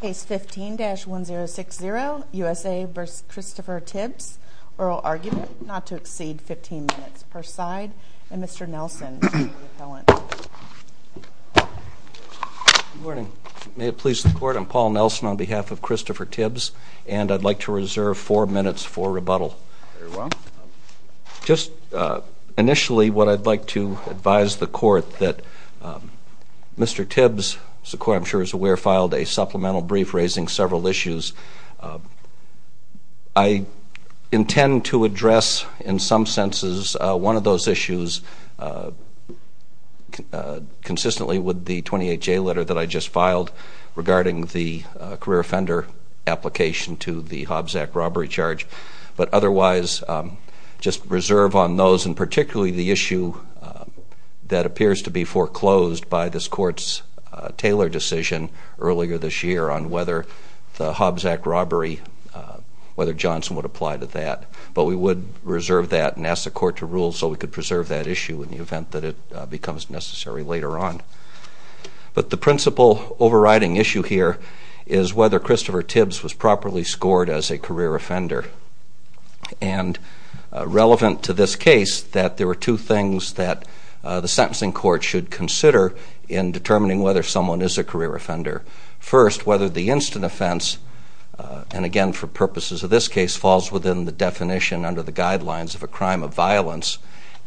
Case 15-1060, USA v. Christopher Tibbs, Oral Argument, Not to Exceed 15 Minutes, Perside, and Mr. Nelson is the appellant. Good morning. May it please the Court, I'm Paul Nelson on behalf of Christopher Tibbs, and I'd like to reserve four minutes for rebuttal. Very well. Just initially, what I'd like to advise the Court that Mr. Tibbs, as the Court, I'm sure, is aware, filed a supplemental brief raising several issues. I intend to address, in some senses, one of those issues consistently with the 28-J letter that I just filed regarding the career offender application to the Hobbs Act robbery charge. But otherwise, just reserve on those, and particularly the issue that appears to be foreclosed by this Court's Taylor decision earlier this year on whether the Hobbs Act robbery, whether Johnson would apply to that. But we would reserve that and ask the Court to rule so we could preserve that issue in the event that it becomes necessary later on. But the principal overriding issue here is whether Christopher Tibbs was properly scored as a career offender. And relevant to this case, that there were two things that the sentencing court should consider in determining whether someone is a career offender. First, whether the instant offense, and again for purposes of this case, falls within the definition under the guidelines of a crime of violence.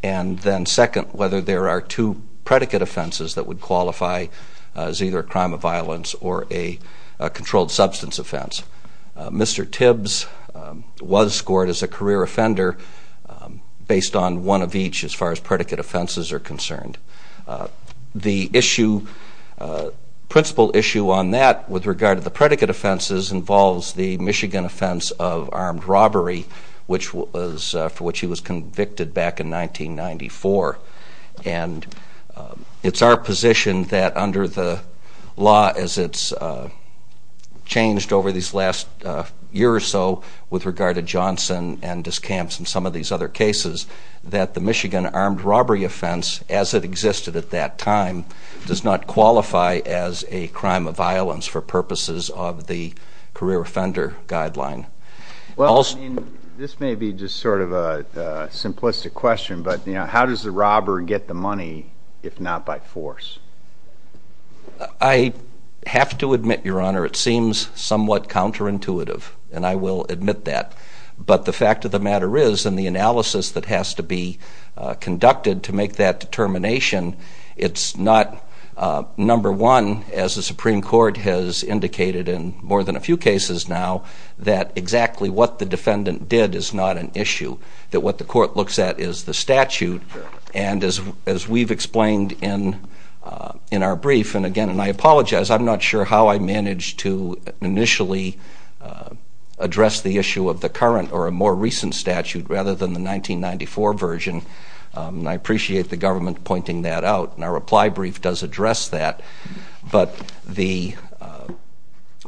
And then second, whether there are two predicate offenses that would qualify as either a crime of violence or a controlled substance offense. Mr. Tibbs was scored as a career offender based on one of each as far as predicate offenses are concerned. The issue, principal issue on that with regard to the predicate offenses involves the Michigan offense of armed robbery, for which he was convicted back in 1994. And it's our position that under the law, as it's changed over these last year or so with regard to Johnson and Discamps and some of these other cases, that the Michigan armed robbery offense, as it existed at that time, does not qualify as a crime of violence for purposes of the career offender guideline. Well, I mean, this may be just sort of a simplistic question, but how does the robber get the money if not by force? I have to admit, Your Honor, it seems somewhat counterintuitive, and I will admit that. But the fact of the matter is, in the analysis that has to be conducted to make that determination, it's not, number one, as the Supreme Court has indicated in more than a few cases now, that exactly what the defendant did is not an issue. That what the court looks at is the statute, and as we've explained in our brief, and again, and I apologize, I'm not sure how I managed to initially address the issue of the current or a more recent statute rather than the 1994 version. And I appreciate the government pointing that out, and our reply brief does address that. But the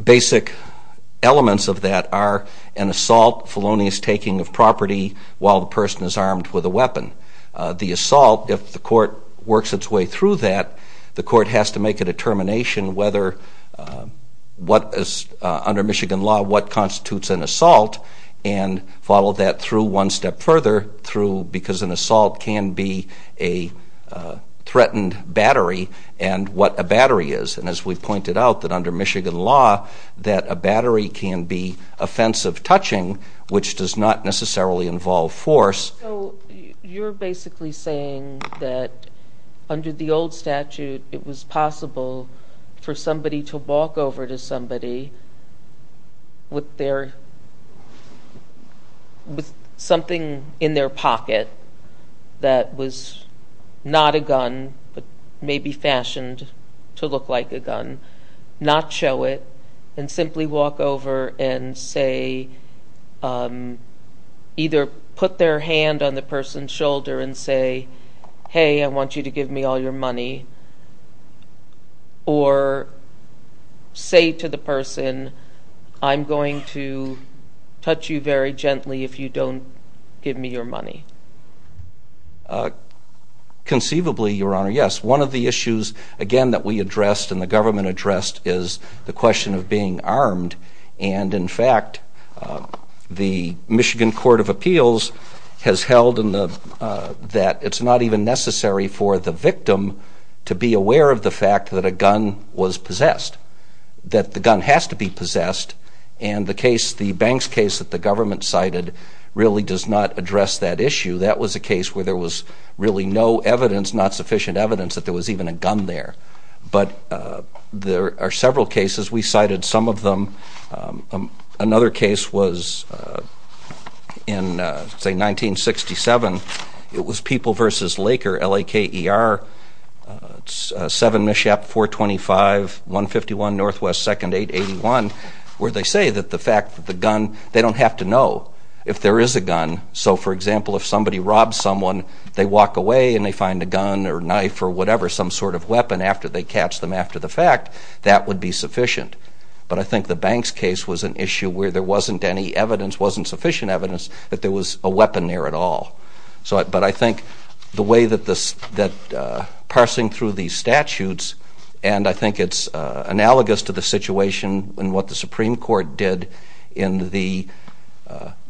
basic elements of that are an assault, felonious taking of property while the person is armed with a weapon. The assault, if the court works its way through that, the court has to make a determination whether, under Michigan law, what constitutes an assault, and follow that through one step further, because an assault can be a threatened battery, and what a battery is. And as we've pointed out, that under Michigan law, that a battery can be offensive touching, which does not necessarily involve force. So, you're basically saying that under the old statute, it was possible for somebody to walk over to somebody with something in their pocket that was not a gun, but maybe fashioned to look like a gun, not show it, and simply walk over and say, either put their hand on the person's shoulder and say, hey, I want you to give me all your money, or say to the person, I'm going to touch you very gently if you don't give me your money. Conceivably, Your Honor, yes. One of the issues, again, that we addressed and the government addressed is the question of being armed, and in fact, the Michigan Court of Appeals has held that it's not even necessary for the victim to be aware of the fact that a gun was possessed. That the gun has to be possessed, and the case, the Banks case that the government cited, really does not address that issue. That was a case where there was really no evidence, not sufficient evidence, that there was even a gun there. But there are several cases. We cited some of them. Another case was in, say, 1967. It was People v. Laker, L-A-K-E-R, 7 Mishap 425, 151 NW 2nd 881, where they say that the fact that the gun, they don't have to know if there is a gun. So, for example, if somebody robs someone, they walk away and they find a gun or knife or whatever, some sort of weapon, after they catch them after the fact, that would be sufficient. But I think the Banks case was an issue where there wasn't any evidence, wasn't sufficient evidence, that there was a weapon there at all. But I think the way that parsing through these statutes, and I think it's analogous to the situation in what the Supreme Court did in the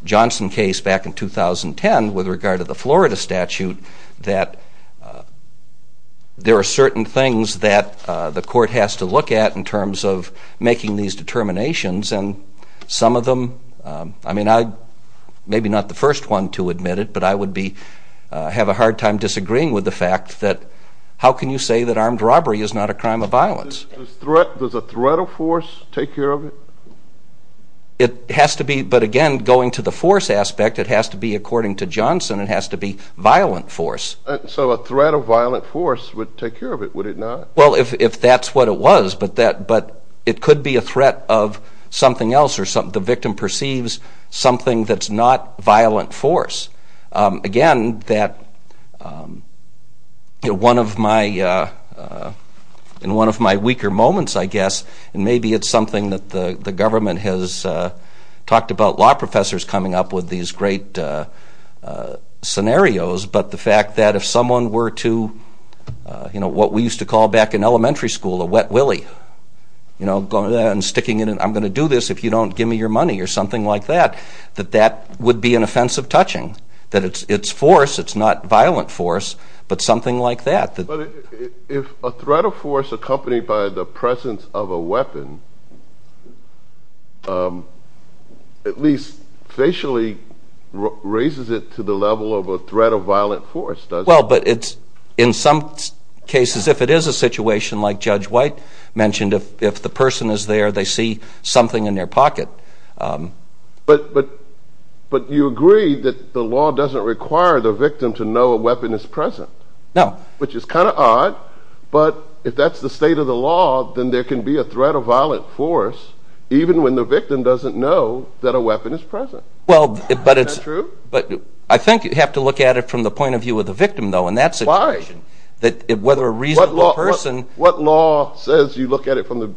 Johnson case back in 2010 with regard to the Florida statute, that there are certain things that the court has to look at in terms of making these determinations. And some of them, I mean, I'm maybe not the first one to admit it, but I would have a hard time disagreeing with the fact that how can you say that armed robbery is not a crime of violence? Does a threat of force take care of it? It has to be, but again, going to the force aspect, it has to be, according to Johnson, it has to be violent force. So a threat of violent force would take care of it, would it not? Well, if that's what it was, but it could be a threat of something else, or the victim perceives something that's not violent force. Again, in one of my weaker moments, I guess, and maybe it's something that the government has talked about law professors coming up with these great scenarios, but the fact that if someone were to, you know, what we used to call back in elementary school, a wet willy. You know, sticking it in, I'm going to do this if you don't give me your money, or something like that, that that would be an offensive touching. That it's force, it's not violent force, but something like that. But if a threat of force accompanied by the presence of a weapon, at least facially raises it to the level of a threat of violent force, does it? Well, but it's, in some cases, if it is a situation like Judge White mentioned, if the person is there, they see something in their pocket. But you agree that the law doesn't require the victim to know a weapon is present? No. Which is kind of odd, but if that's the state of the law, then there can be a threat of violent force, even when the victim doesn't know that a weapon is present. Well, but it's... Is that true? I think you have to look at it from the point of view of the victim, though, in that situation. Why? Whether a reasonable person... What law says you look at it from the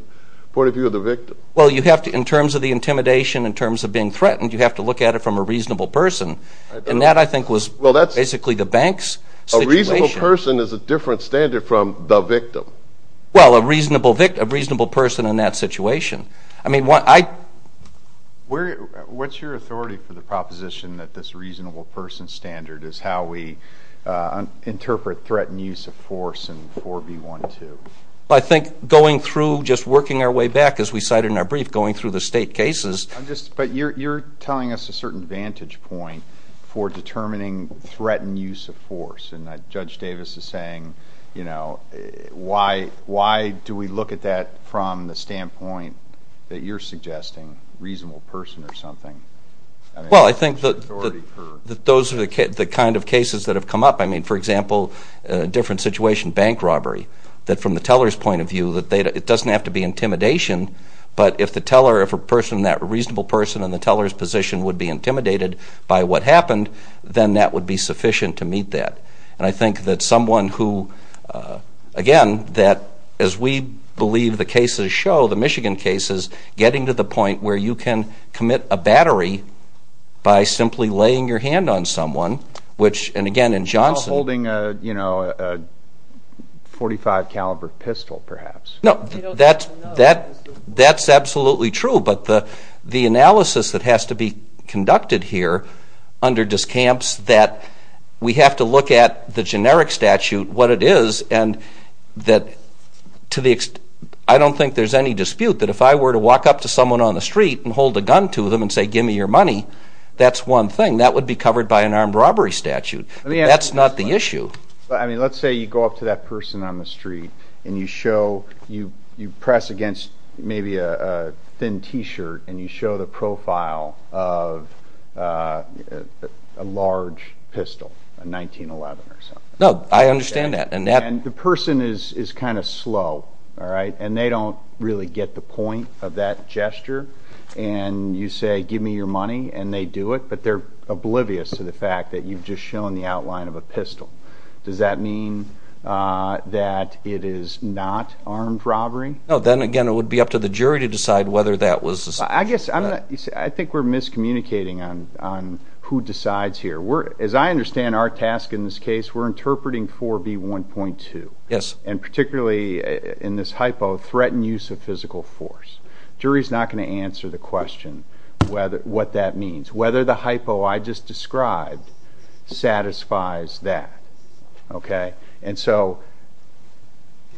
point of view of the victim? Well, you have to, in terms of the intimidation, in terms of being threatened, you have to look at it from a reasonable person. And that, I think, was basically the bank's situation. A reasonable person is a different standard from the victim. Well, a reasonable person in that situation. I mean, what I... What's your authority for the proposition that this reasonable person standard is how we interpret threat and use of force in 4B12? I think going through, just working our way back, as we cited in our brief, going through the state cases... I'm just... But you're telling us a certain vantage point for determining threat and use of force. And Judge Davis is saying, you know, why do we look at that from the standpoint that you're suggesting, reasonable person or something? Well, I think that those are the kind of cases that have come up. I mean, for example, a different situation, bank robbery, that from the teller's point of view, it doesn't have to be intimidation. But if the teller, if a person, that reasonable person in the teller's position would be intimidated by what happened, then that would be sufficient to meet that. And I think that someone who, again, that as we believe the cases show, the Michigan cases, getting to the point where you can commit a battery by simply laying your hand on someone, which, and again, in Johnson... You're not holding a .45 caliber pistol, perhaps. No, that's absolutely true. But the analysis that has to be conducted here under discounts that we have to look at the generic statute, what it is, and that I don't think there's any dispute that if I were to walk up to someone on the street and hold a gun to them and say, give me your money, that's one thing. That would be covered by an armed robbery statute. That's not the issue. I mean, let's say you go up to that person on the street and you show, you press against maybe a thin T-shirt, and you show the profile of a large pistol, a 1911 or something. No, I understand that. And the person is kind of slow, all right? And they don't really get the point of that gesture. And you say, give me your money, and they do it, but they're oblivious to the fact that you've just shown the outline of a pistol. Does that mean that it is not armed robbery? No, then, again, it would be up to the jury to decide whether that was... I guess I'm not... I think we're miscommunicating on who decides here. As I understand our task in this case, we're interpreting 4B1.2. Yes. And particularly in this hypo, threaten use of physical force. Jury's not going to answer the question what that means. Whether the hypo I just described satisfies that, okay? And so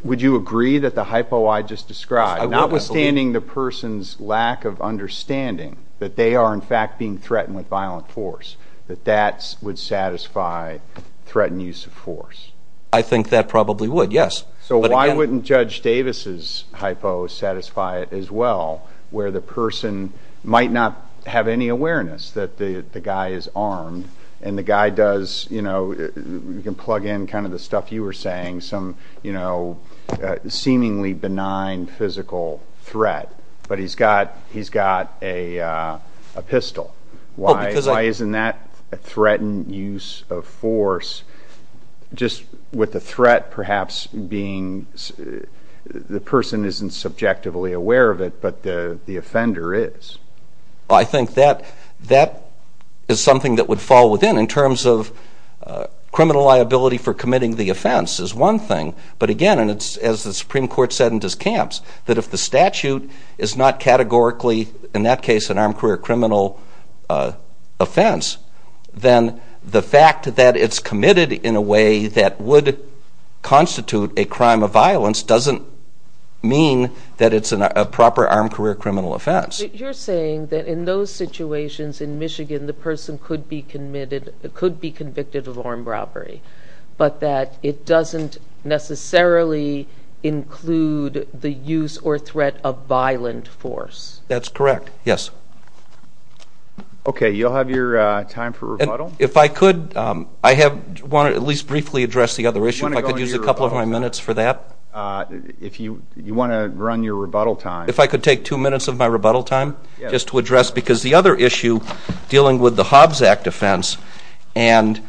would you agree that the hypo I just described, notwithstanding the person's lack of understanding that they are, in fact, being threatened with violent force, that that would satisfy threaten use of force? I think that probably would, yes. So why wouldn't Judge Davis' hypo satisfy it as well, where the person might not have any awareness that the guy is armed, and the guy does, you know, you can plug in kind of the stuff you were saying, some, you know, seemingly benign physical threat, but he's got a pistol. Why isn't that a threatened use of force, just with the threat perhaps being the person isn't subjectively aware of it, but the offender is? I think that is something that would fall within in terms of criminal liability for committing the offense is one thing. But again, and it's, as the Supreme Court said in DesCamps, that if the statute is not categorically, in that case, an armed career criminal offense, then the fact that it's committed in a way that would constitute a crime of violence doesn't mean that it's a proper armed career criminal offense. But you're saying that in those situations in Michigan, the person could be convicted of armed robbery, but that it doesn't necessarily include the use or threat of violent force. That's correct, yes. Okay, you'll have your time for rebuttal? If I could, I have, want to at least briefly address the other issue, if I could use a couple of my minutes for that. If you want to run your rebuttal time. If I could take two minutes of my rebuttal time just to address, because the other issue dealing with the Hobbs Act offense, and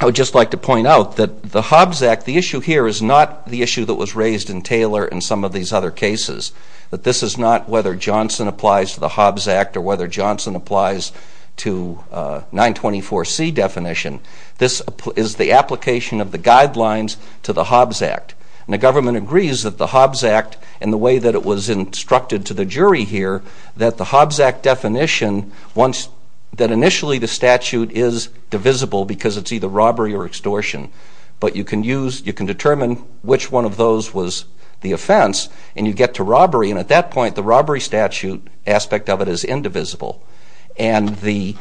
I would just like to point out that the Hobbs Act, the issue here is not the issue that was raised in Taylor and some of these other cases. That this is not whether Johnson applies to the Hobbs Act or whether Johnson applies to 924C definition. This is the application of the guidelines to the Hobbs Act. And the government agrees that the Hobbs Act, in the way that it was instructed to the jury here, that the Hobbs Act definition, that initially the statute is divisible because it's either robbery or extortion. But you can use, you can determine which one of those was the offense, and you get to robbery. And at that point, the robbery statute aspect of it is indivisible. And there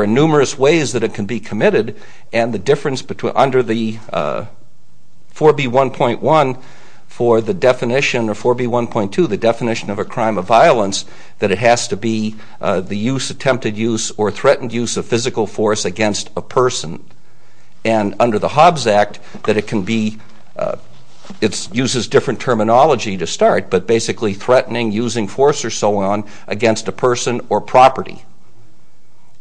are numerous ways that it can be committed, and the difference under the 4B1.1 for the definition, or 4B1.2, the definition of a crime of violence, that it has to be the use, attempted use, or threatened use of physical force against a person. And under the Hobbs Act, that it can be, it uses different terminology to start, but basically threatening, using force, or so on, against a person or property.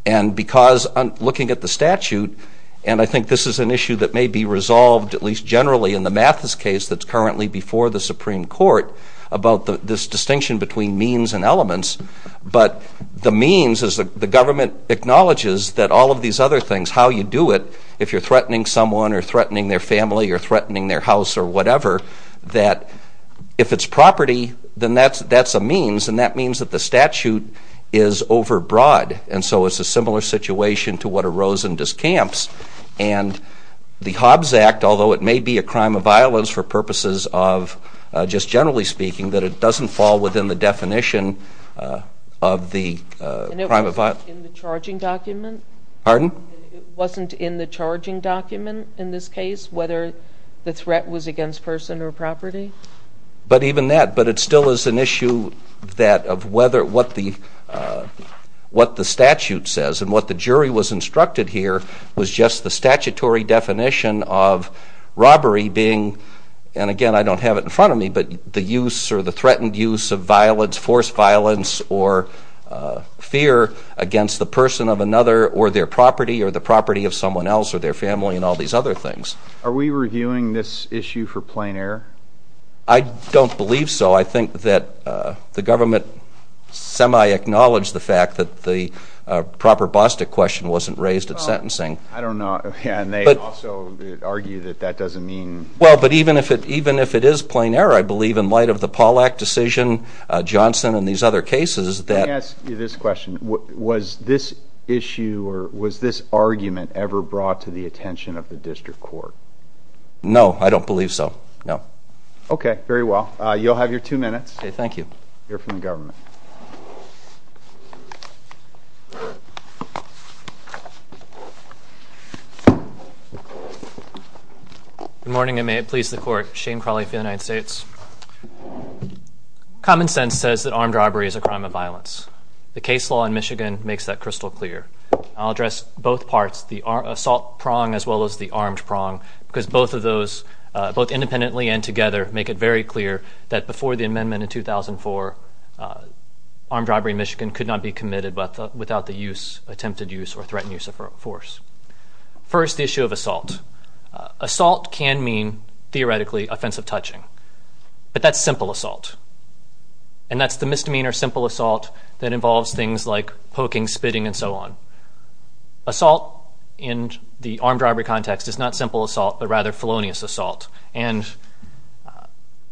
And because, looking at the statute, and I think this is an issue that may be resolved, at least generally in the Mathis case that's currently before the Supreme Court, about this distinction between means and elements. But the means is the government acknowledges that all of these other things, how you do it, if you're threatening someone or threatening their family or threatening their house or whatever, that if it's property, then that's a means, and that means that the statute is overbroad. And so it's a similar situation to what arose in Discamps. And the Hobbs Act, although it may be a crime of violence for purposes of just generally speaking, that it doesn't fall within the definition of the crime of violence. And it wasn't in the charging document? Pardon? It wasn't in the charging document in this case, whether the threat was against person or property? But even that, but it still is an issue that of whether, what the statute says, and what the jury was instructed here was just the statutory definition of robbery being, and again I don't have it in front of me, but the use or the threatened use of violence, or fear against the person of another or their property or the property of someone else or their family and all these other things. Are we reviewing this issue for plain error? I don't believe so. I think that the government semi-acknowledged the fact that the proper Bostick question wasn't raised at sentencing. I don't know. And they also argue that that doesn't mean. Well, but even if it is plain error, I believe in light of the Pollack decision, Johnson and these other cases that. Let me ask you this question. Was this issue or was this argument ever brought to the attention of the district court? No, I don't believe so. No. Okay, very well. You'll have your two minutes. Okay, thank you. You're from the government. Good morning, and may it please the court. Shane Crawley for the United States. Common sense says that armed robbery is a crime of violence. The case law in Michigan makes that crystal clear. I'll address both parts, the assault prong as well as the armed prong, because both of those, both independently and together, make it very clear that before the amendment in 2004, armed robbery in Michigan could not be committed without the attempted use or threatened use of force. First, the issue of assault. Assault can mean, theoretically, offensive touching, but that's simple assault, and that's the misdemeanor simple assault that involves things like poking, spitting, and so on. Assault in the armed robbery context is not simple assault but rather felonious assault. And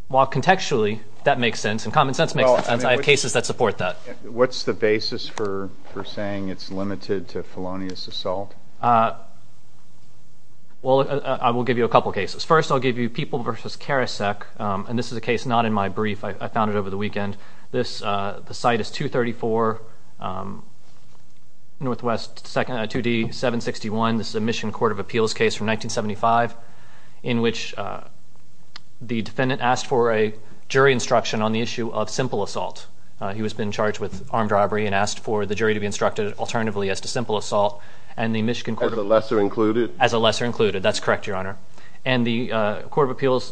while contextually that makes sense and common sense makes sense, I have cases that support that. What's the basis for saying it's limited to felonious assault? Well, I will give you a couple cases. First, I'll give you People v. Karasek, and this is a case not in my brief. I found it over the weekend. The site is 234 NW 2D 761. This is a Michigan Court of Appeals case from 1975 in which the defendant asked for a jury instruction on the issue of simple assault. He has been charged with armed robbery and asked for the jury to be instructed alternatively as to simple assault, and the Michigan Court of Appeals. As a lesser included? As a lesser included. That's correct, Your Honor. And the Court of Appeals,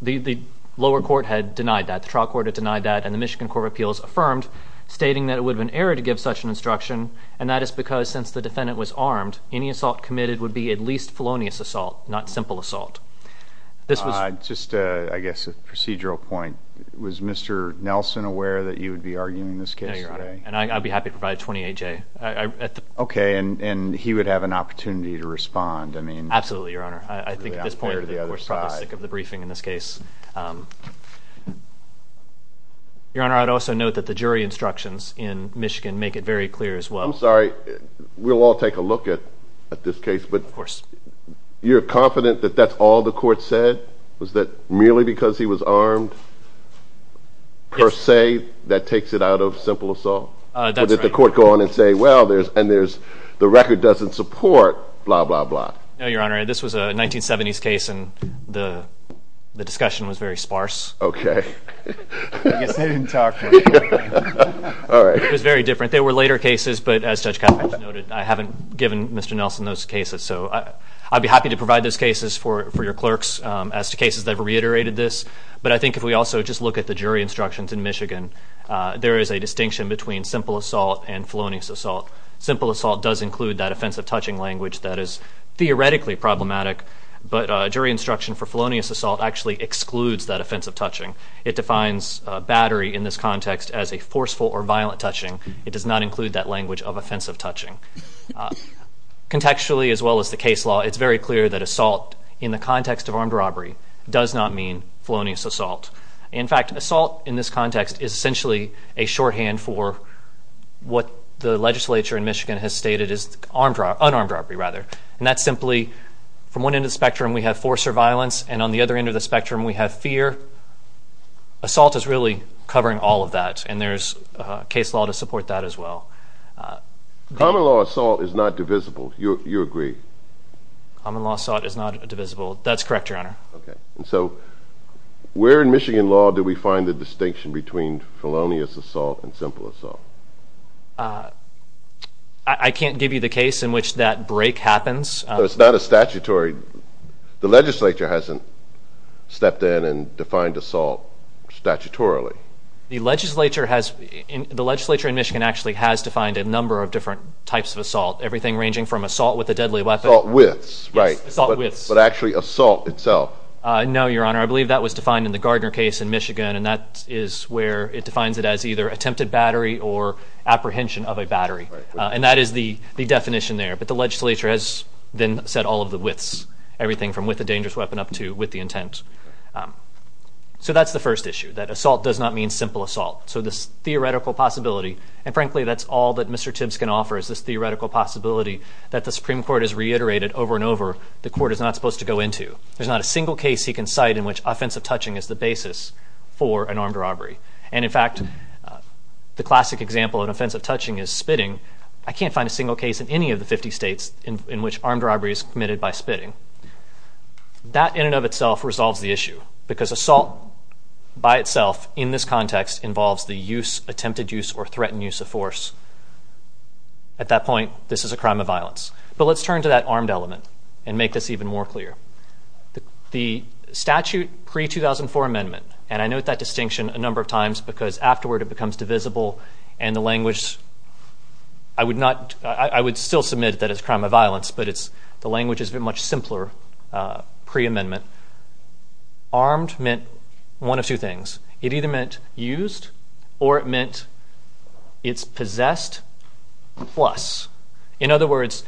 the lower court had denied that. The trial court had denied that, and the Michigan Court of Appeals affirmed, stating that it would have been error to give such an instruction, and that is because since the defendant was armed, any assault committed would be at least felonious assault, not simple assault. Just, I guess, a procedural point. Was Mr. Nelson aware that you would be arguing this case today? No, Your Honor, and I'd be happy to provide a 28-J. Okay, and he would have an opportunity to respond? Absolutely, Your Honor. I think at this point we're probably sick of the briefing in this case. Your Honor, I'd also note that the jury instructions in Michigan make it very clear as well. I'm sorry, we'll all take a look at this case, but you're confident that that's all the court said? Was that merely because he was armed, per se, that takes it out of simple assault? That's right. Or did the court go on and say, well, and the record doesn't support blah, blah, blah? No, Your Honor, this was a 1970s case, and the discussion was very sparse. Okay. I guess they didn't talk much. All right. It was very different. There were later cases, but as Judge Kavanaugh noted, I haven't given Mr. Nelson those cases. So I'd be happy to provide those cases for your clerks as to cases that have reiterated this. But I think if we also just look at the jury instructions in Michigan, there is a distinction between simple assault and felonious assault. Simple assault does include that offensive touching language that is theoretically problematic, but jury instruction for felonious assault actually excludes that offensive touching. It defines battery in this context as a forceful or violent touching. It does not include that language of offensive touching. Contextually, as well as the case law, it's very clear that assault in the context of armed robbery does not mean felonious assault. In fact, assault in this context is essentially a shorthand for what the legislature in Michigan has stated is unarmed robbery, rather. And that's simply from one end of the spectrum we have force or violence, and on the other end of the spectrum we have fear. Assault is really covering all of that, and there's case law to support that as well. Common law assault is not divisible. You agree? Common law assault is not divisible. That's correct, Your Honor. Okay. And so where in Michigan law do we find the distinction between felonious assault and simple assault? I can't give you the case in which that break happens. It's not a statutory. The legislature hasn't stepped in and defined assault statutorily. The legislature in Michigan actually has defined a number of different types of assault, everything ranging from assault with a deadly weapon. Assault with, right. Yes, assault with. But actually assault itself. I believe that was defined in the Gardner case in Michigan, and that is where it defines it as either attempted battery or apprehension of a battery. And that is the definition there. But the legislature has then set all of the widths, everything from with a dangerous weapon up to with the intent. So that's the first issue, that assault does not mean simple assault. So this theoretical possibility, and frankly that's all that Mr. Tibbs can offer, is this theoretical possibility that the Supreme Court has reiterated over and over the Court is not supposed to go into. There's not a single case he can cite in which offensive touching is the basis for an armed robbery. And in fact, the classic example of offensive touching is spitting. I can't find a single case in any of the 50 states in which armed robbery is committed by spitting. That in and of itself resolves the issue, because assault by itself in this context involves the use, attempted use, or threatened use of force. At that point, this is a crime of violence. But let's turn to that armed element and make this even more clear. The statute pre-2004 amendment, and I note that distinction a number of times because afterward it becomes divisible and the language, I would still submit that it's a crime of violence, but the language is much simpler pre-amendment. Armed meant one of two things. It either meant used or it meant it's possessed plus. In other words,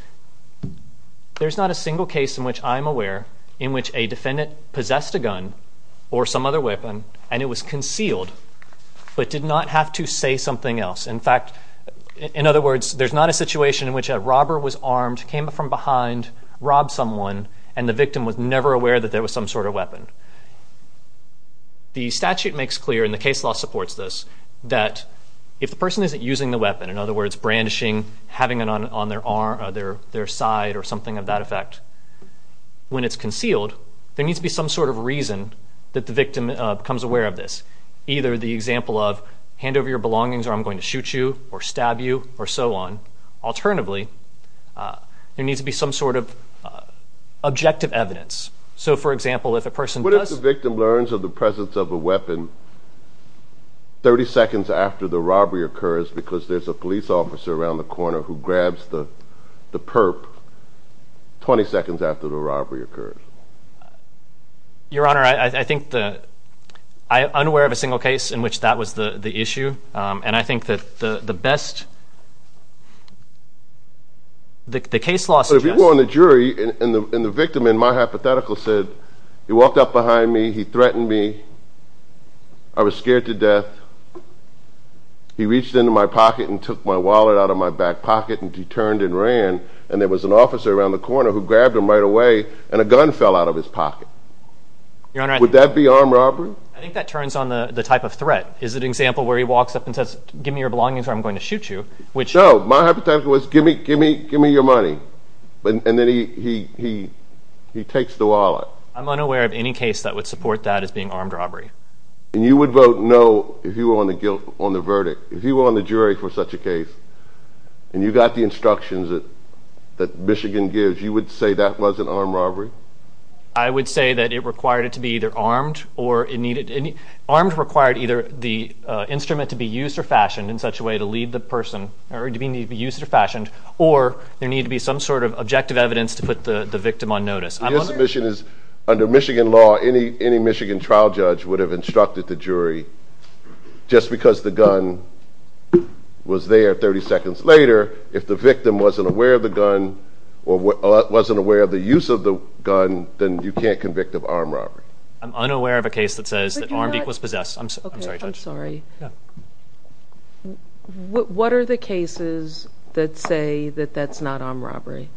there's not a single case in which I'm aware in which a defendant possessed a gun or some other weapon and it was concealed but did not have to say something else. In fact, in other words, there's not a situation in which a robber was armed, came up from behind, robbed someone, and the victim was never aware that there was some sort of weapon. The statute makes clear, and the case law supports this, that if the person isn't using the weapon, in other words, brandishing, having it on their side or something of that effect, when it's concealed, there needs to be some sort of reason that the victim becomes aware of this, either the example of hand over your belongings or I'm going to shoot you or stab you or so on. Alternatively, there needs to be some sort of objective evidence. So, for example, if a person does... What if the victim learns of the presence of a weapon 30 seconds after the robbery occurs because there's a police officer around the corner who grabs the perp 20 seconds after the robbery occurs? Your Honor, I think the... I'm unaware of a single case in which that was the issue, and I think that the best... The case law suggests... If you go on the jury and the victim, in my hypothetical, said, he walked up behind me, he threatened me, I was scared to death, he reached into my pocket and took my wallet out of my back pocket and he turned and ran, and there was an officer around the corner who grabbed him right away and a gun fell out of his pocket. Your Honor... Would that be armed robbery? I think that turns on the type of threat. Is it an example where he walks up and says, give me your belongings or I'm going to shoot you, which... No, my hypothetical was, give me your money, and then he takes the wallet. I'm unaware of any case that would support that as being armed robbery. And you would vote no if you were on the verdict. If you were on the jury for such a case and you got the instructions that Michigan gives, you would say that wasn't armed robbery? I would say that it required it to be either armed or it needed... Armed required either the instrument to be used or fashioned in such a way to lead the person, or it needed to be used or fashioned, or there needed to be some sort of objective evidence to put the victim on notice. Your submission is, under Michigan law, any Michigan trial judge would have instructed the jury, just because the gun was there 30 seconds later, if the victim wasn't aware of the gun or wasn't aware of the use of the gun, then you can't convict of armed robbery. I'm unaware of a case that says that armed equals possessed. I'm sorry, Judge. I'm sorry. What are the cases that say that that's not armed robbery?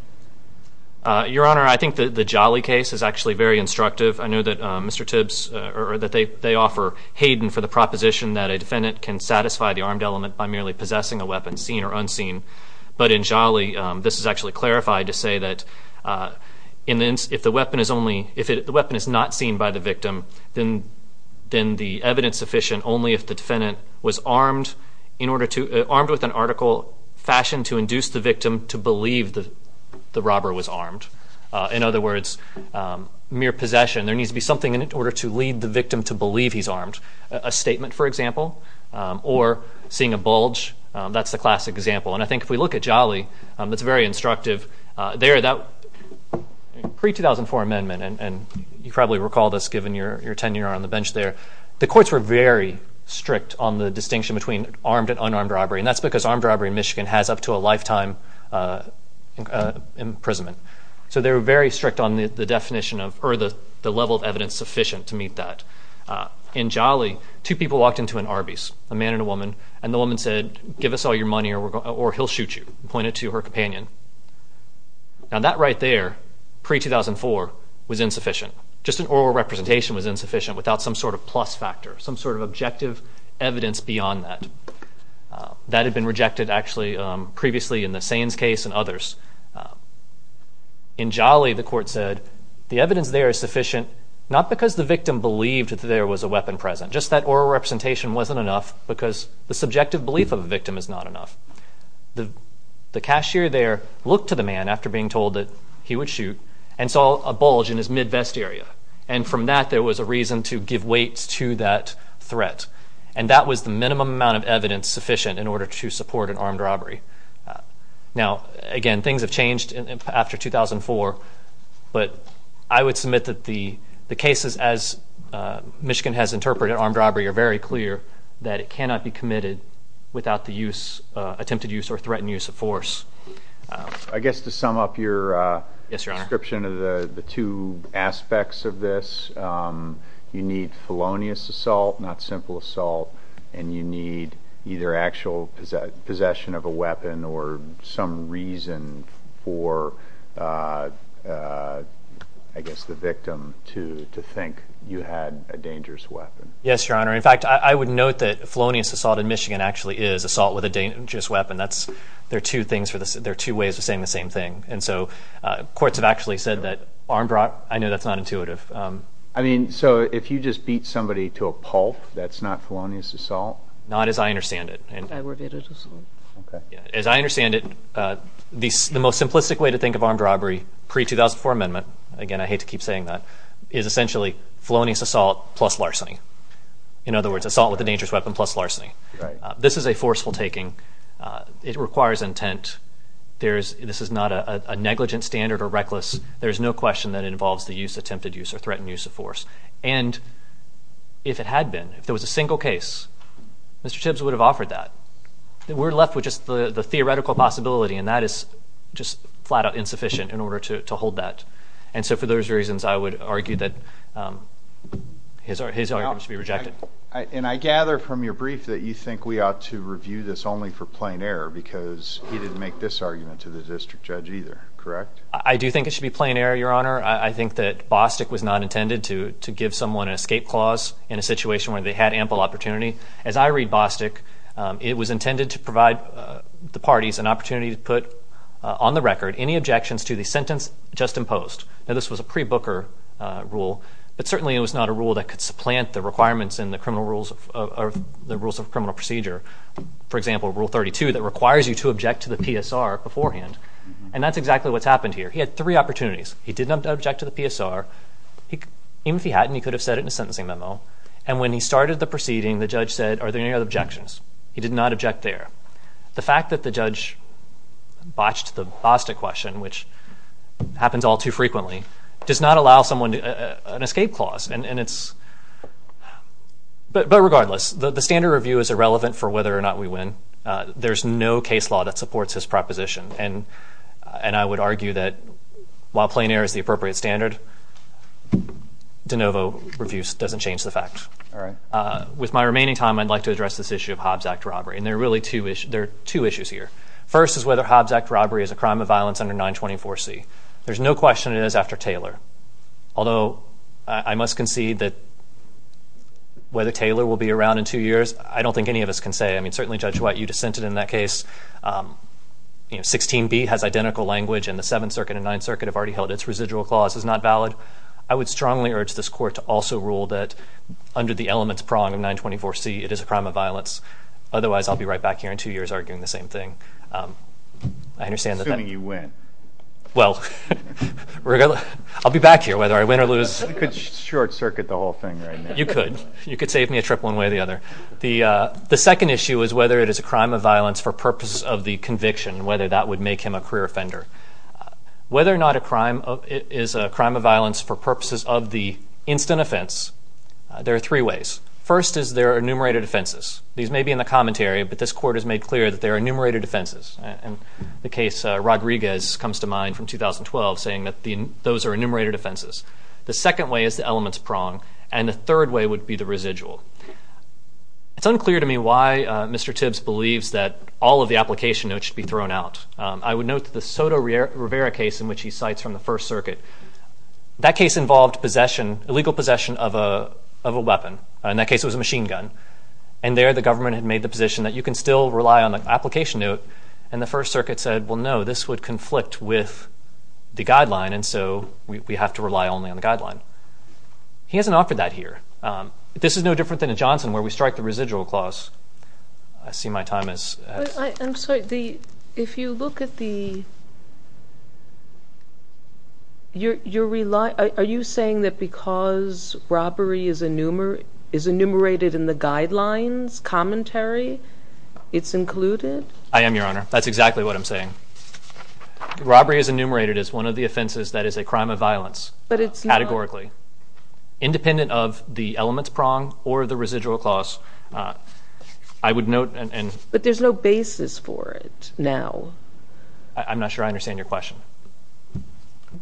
Your Honor, I think the Jolly case is actually very instructive. I know that Mr. Tibbs, or that they offer Hayden for the proposition that a defendant can satisfy the armed element by merely possessing a weapon, seen or unseen. But in Jolly, this is actually clarified to say that if the weapon is not seen by the victim, then the evidence sufficient only if the defendant was armed with an article fashioned to induce the victim to believe that the robber was armed. In other words, mere possession. There needs to be something in order to lead the victim to believe he's armed. A statement, for example, or seeing a bulge. That's the classic example. And I think if we look at Jolly, it's very instructive. There, that pre-2004 amendment, and you probably recall this given your tenure on the bench there, the courts were very strict on the distinction between armed and unarmed robbery, and that's because armed robbery in Michigan has up to a lifetime imprisonment. So they were very strict on the definition of, or the level of evidence sufficient to meet that. In Jolly, two people walked into an Arby's, a man and a woman, and the woman said, give us all your money or he'll shoot you, and pointed to her companion. Now that right there, pre-2004, was insufficient. Just an oral representation was insufficient without some sort of plus factor, some sort of objective evidence beyond that. That had been rejected, actually, previously in the Saines case and others. In Jolly, the court said, the evidence there is sufficient not because the victim believed that there was a weapon present, just that oral representation wasn't enough because the subjective belief of the victim is not enough. The cashier there looked to the man after being told that he would shoot and saw a bulge in his mid-vest area, and from that there was a reason to give weight to that threat, and that was the minimum amount of evidence sufficient in order to support an armed robbery. Now, again, things have changed after 2004, but I would submit that the cases, as Michigan has interpreted armed robbery, are very clear that it cannot be committed without the attempted use or threatened use of force. I guess to sum up your description of the two aspects of this, you need felonious assault, not simple assault, and you need either actual possession of a weapon or some reason for, I guess, the victim to think you had a dangerous weapon. Yes, Your Honor. In fact, I would note that felonious assault in Michigan actually is assault with a dangerous weapon. There are two ways of saying the same thing, and so courts have actually said that armed robbery, I know that's not intuitive. I mean, so if you just beat somebody to a pulp, that's not felonious assault? Not as I understand it. I would get it as assault. Okay. As I understand it, the most simplistic way to think of armed robbery pre-2004 amendment, again, I hate to keep saying that, is essentially felonious assault plus larceny. In other words, assault with a dangerous weapon plus larceny. This is a forceful taking. It requires intent. This is not a negligent standard or reckless. There is no question that it involves the use, attempted use, or threatened use of force. And if it had been, if there was a single case, Mr. Tibbs would have offered that. We're left with just the theoretical possibility, and that is just flat-out insufficient in order to hold that. And so for those reasons, I would argue that his argument should be rejected. And I gather from your brief that you think we ought to review this only for plain error because he didn't make this argument to the district judge either. Correct? I do think it should be plain error, Your Honor. I think that Bostick was not intended to give someone an escape clause in a situation where they had ample opportunity. As I read Bostick, it was intended to provide the parties an opportunity to put on the record any objections to the sentence just imposed. Now, this was a pre-Booker rule, but certainly it was not a rule that could supplant the requirements in the rules of criminal procedure. For example, Rule 32 that requires you to object to the PSR beforehand. And that's exactly what's happened here. He had three opportunities. He did not object to the PSR. Even if he hadn't, he could have said it in a sentencing memo. And when he started the proceeding, the judge said, Are there any other objections? He did not object there. The fact that the judge botched the Bostick question, which happens all too frequently, does not allow someone an escape clause. But regardless, the standard review is irrelevant for whether or not we win. There's no case law that supports his proposition. And I would argue that while plain error is the appropriate standard, de novo reviews doesn't change the fact. With my remaining time, I'd like to address this issue of Hobbs Act robbery. And there are two issues here. First is whether Hobbs Act robbery is a crime of violence under 924C. There's no question it is after Taylor. Although I must concede that whether Taylor will be around in two years, I don't think any of us can say. Certainly, Judge White, you dissented in that case. 16b has identical language, and the Seventh Circuit and Ninth Circuit have already held its residual clause is not valid. I would strongly urge this Court to also rule that under the elements prong of 924C it is a crime of violence. Otherwise, I'll be right back here in two years arguing the same thing. I understand that. Assuming you win. Well, I'll be back here whether I win or lose. You could short-circuit the whole thing right now. You could. You could save me a trip one way or the other. The second issue is whether it is a crime of violence for purposes of the conviction, whether that would make him a clear offender. Whether or not it is a crime of violence for purposes of the instant offense, there are three ways. First is there are enumerated offenses. These may be in the commentary, but this Court has made clear that there are enumerated offenses. The case Rodriguez comes to mind from 2012, saying that those are enumerated offenses. The second way is the elements prong, and the third way would be the residual. It's unclear to me why Mr. Tibbs believes that all of the application notes should be thrown out. I would note the Soto Rivera case in which he cites from the First Circuit. That case involved illegal possession of a weapon. In that case it was a machine gun. There the government had made the position that you can still rely on the application note, and the First Circuit said, well, no, this would conflict with the guideline, and so we have to rely only on the guideline. He hasn't offered that here. This is no different than in Johnson where we strike the residual clause. I see my time has passed. I'm sorry. If you look at the... Are you saying that because robbery is enumerated in the guidelines commentary, it's included? I am, Your Honor. That's exactly what I'm saying. Robbery is enumerated as one of the offenses that is a crime of violence, categorically, independent of the elements prong or the residual clause. I would note and... But there's no basis for it now. I'm not sure I understand your question.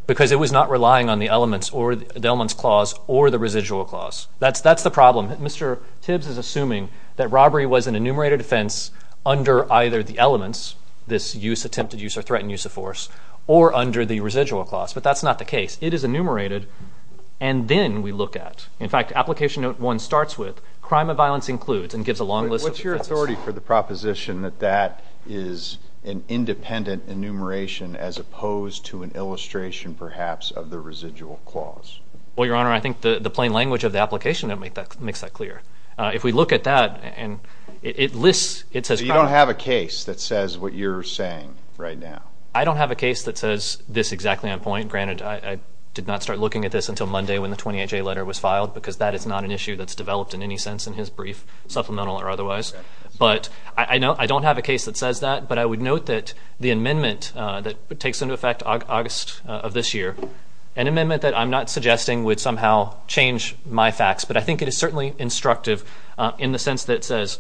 Because it was not relying on the elements clause or the residual clause. That's the problem. Mr. Tibbs is assuming that robbery was an enumerated offense under either the elements, this attempted use or threatened use of force, or under the residual clause, but that's not the case. It is enumerated, and then we look at. crime of violence includes, and gives a long list of offenses. Is there a priority for the proposition that that is an independent enumeration as opposed to an illustration, perhaps, of the residual clause? Well, Your Honor, I think the plain language of the application makes that clear. If we look at that, it lists. So you don't have a case that says what you're saying right now? I don't have a case that says this exactly on point. Granted, I did not start looking at this until Monday when the 28-J letter was filed because that is not an issue that's developed in any sense in his brief, supplemental or otherwise. But I don't have a case that says that, but I would note that the amendment that takes into effect August of this year, an amendment that I'm not suggesting would somehow change my facts, but I think it is certainly instructive in the sense that it says,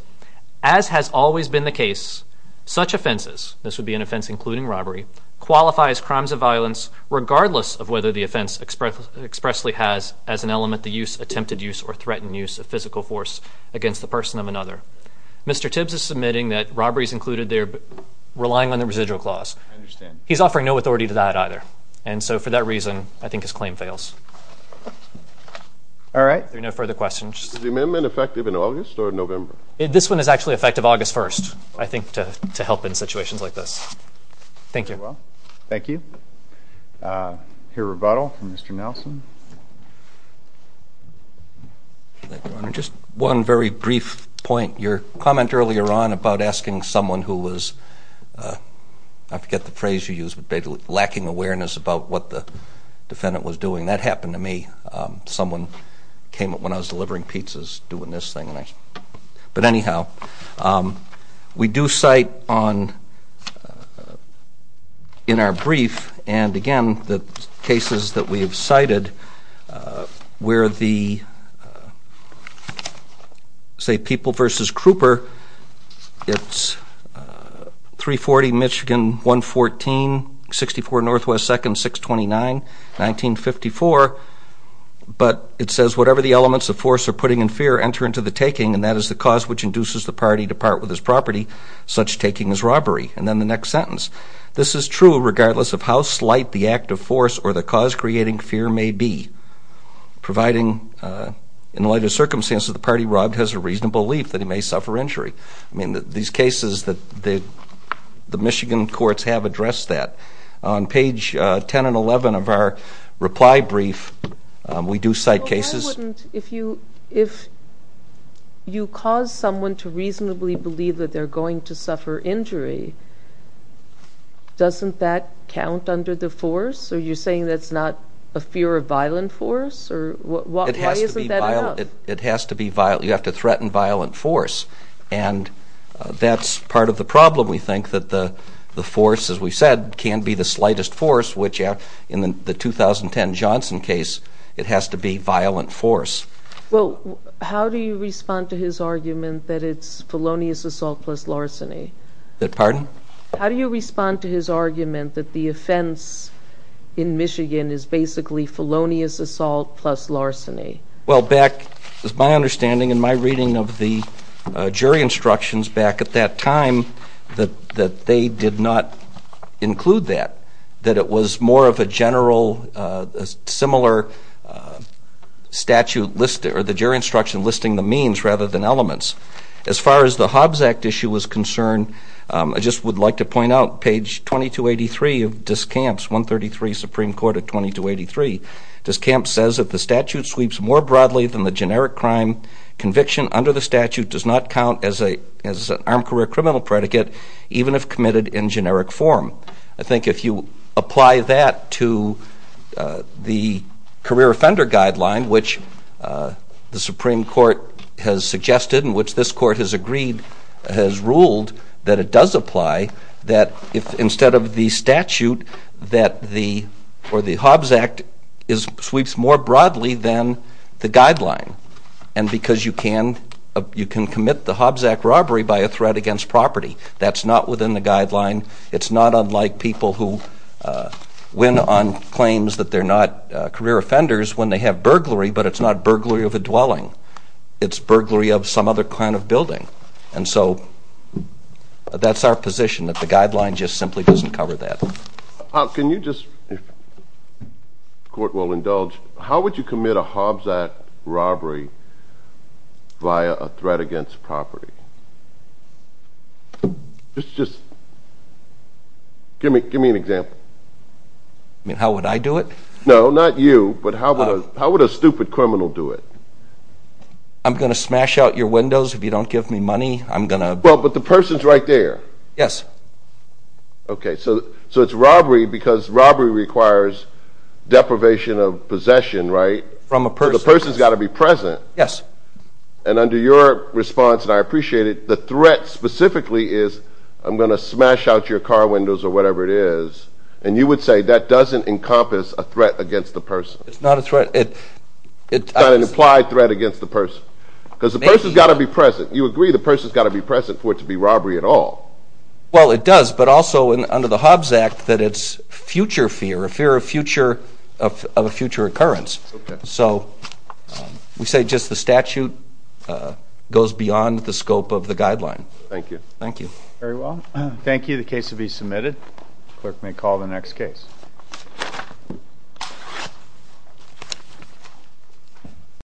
as has always been the case, such offenses, this would be an offense including robbery, qualifies crimes of violence regardless of whether the offense expressly has, as an element, the use, attempted use, or threatened use of physical force against the person of another. Mr. Tibbs is submitting that robbery is included there relying on the residual clause. I understand. He's offering no authority to that either. And so for that reason, I think his claim fails. All right. Are there no further questions? Is the amendment effective in August or November? This one is actually effective August 1st, I think, to help in situations like this. Thank you. Thank you. I hear rebuttal from Mr. Nelson. Thank you, Your Honor. Just one very brief point. Your comment earlier on about asking someone who was, I forget the phrase you used, but lacking awareness about what the defendant was doing, that happened to me. Someone came up when I was delivering pizzas doing this thing. But anyhow, we do cite in our brief and, again, the cases that we have cited where the, say, People v. Kruper, it's 340 Michigan 114, 64 Northwest 2nd, 629, 1954. But it says, Whatever the elements of force are putting in fear enter into the taking, and that is the cause which induces the party to part with his property. Such taking is robbery. And then the next sentence. This is true regardless of how slight the act of force or the cause creating fear may be, providing in the light of circumstances the party robbed has a reasonable belief that he may suffer injury. I mean, these cases, the Michigan courts have addressed that. On page 10 and 11 of our reply brief, we do cite cases. Well, why wouldn't, if you cause someone to reasonably believe that they're going to suffer injury, doesn't that count under the force? Are you saying that's not a fear of violent force? Why isn't that enough? It has to be violent. You have to threaten violent force. And that's part of the problem, we think, that the force, as we said, can be the slightest force, which in the 2010 Johnson case, it has to be violent force. Well, how do you respond to his argument that it's felonious assault plus larceny? Pardon? How do you respond to his argument that the offense in Michigan is basically felonious assault plus larceny? Well, back, as my understanding and my reading of the jury instructions back at that time, that they did not include that, that it was more of a general, similar statute, or the jury instruction listing the means rather than elements. As far as the Hobbs Act issue is concerned, I just would like to point out page 2283 of Discamps, 133 Supreme Court of 2283. Discamps says that the statute sweeps more broadly than the generic crime. Conviction under the statute does not count as an armed career criminal predicate, even if committed in generic form. I think if you apply that to the career offender guideline, which the Supreme Court has suggested and which this Court has agreed, has ruled that it does apply, that instead of the statute, that the Hobbs Act sweeps more broadly than the guideline. And because you can commit the Hobbs Act robbery by a threat against property. That's not within the guideline. It's not unlike people who win on claims that they're not career offenders when they have burglary, but it's not burglary of a dwelling. And so that's our position, that the guideline just simply doesn't cover that. Can you just, if the Court will indulge, how would you commit a Hobbs Act robbery via a threat against property? Just give me an example. You mean how would I do it? No, not you, but how would a stupid criminal do it? I'm going to smash out your windows if you don't give me money. Well, but the person's right there. Yes. Okay, so it's robbery because robbery requires deprivation of possession, right? From a person. So the person's got to be present. Yes. And under your response, and I appreciate it, the threat specifically is, I'm going to smash out your car windows or whatever it is. It's not a threat. It's not an implied threat against the person. Because the person's got to be present. You agree the person's got to be present for it to be robbery at all. Well, it does, but also under the Hobbs Act that it's future fear, a fear of a future occurrence. So we say just the statute goes beyond the scope of the guideline. Thank you. Thank you. Very well. Thank you. The case will be submitted. Clerk may call the next case. Thank you.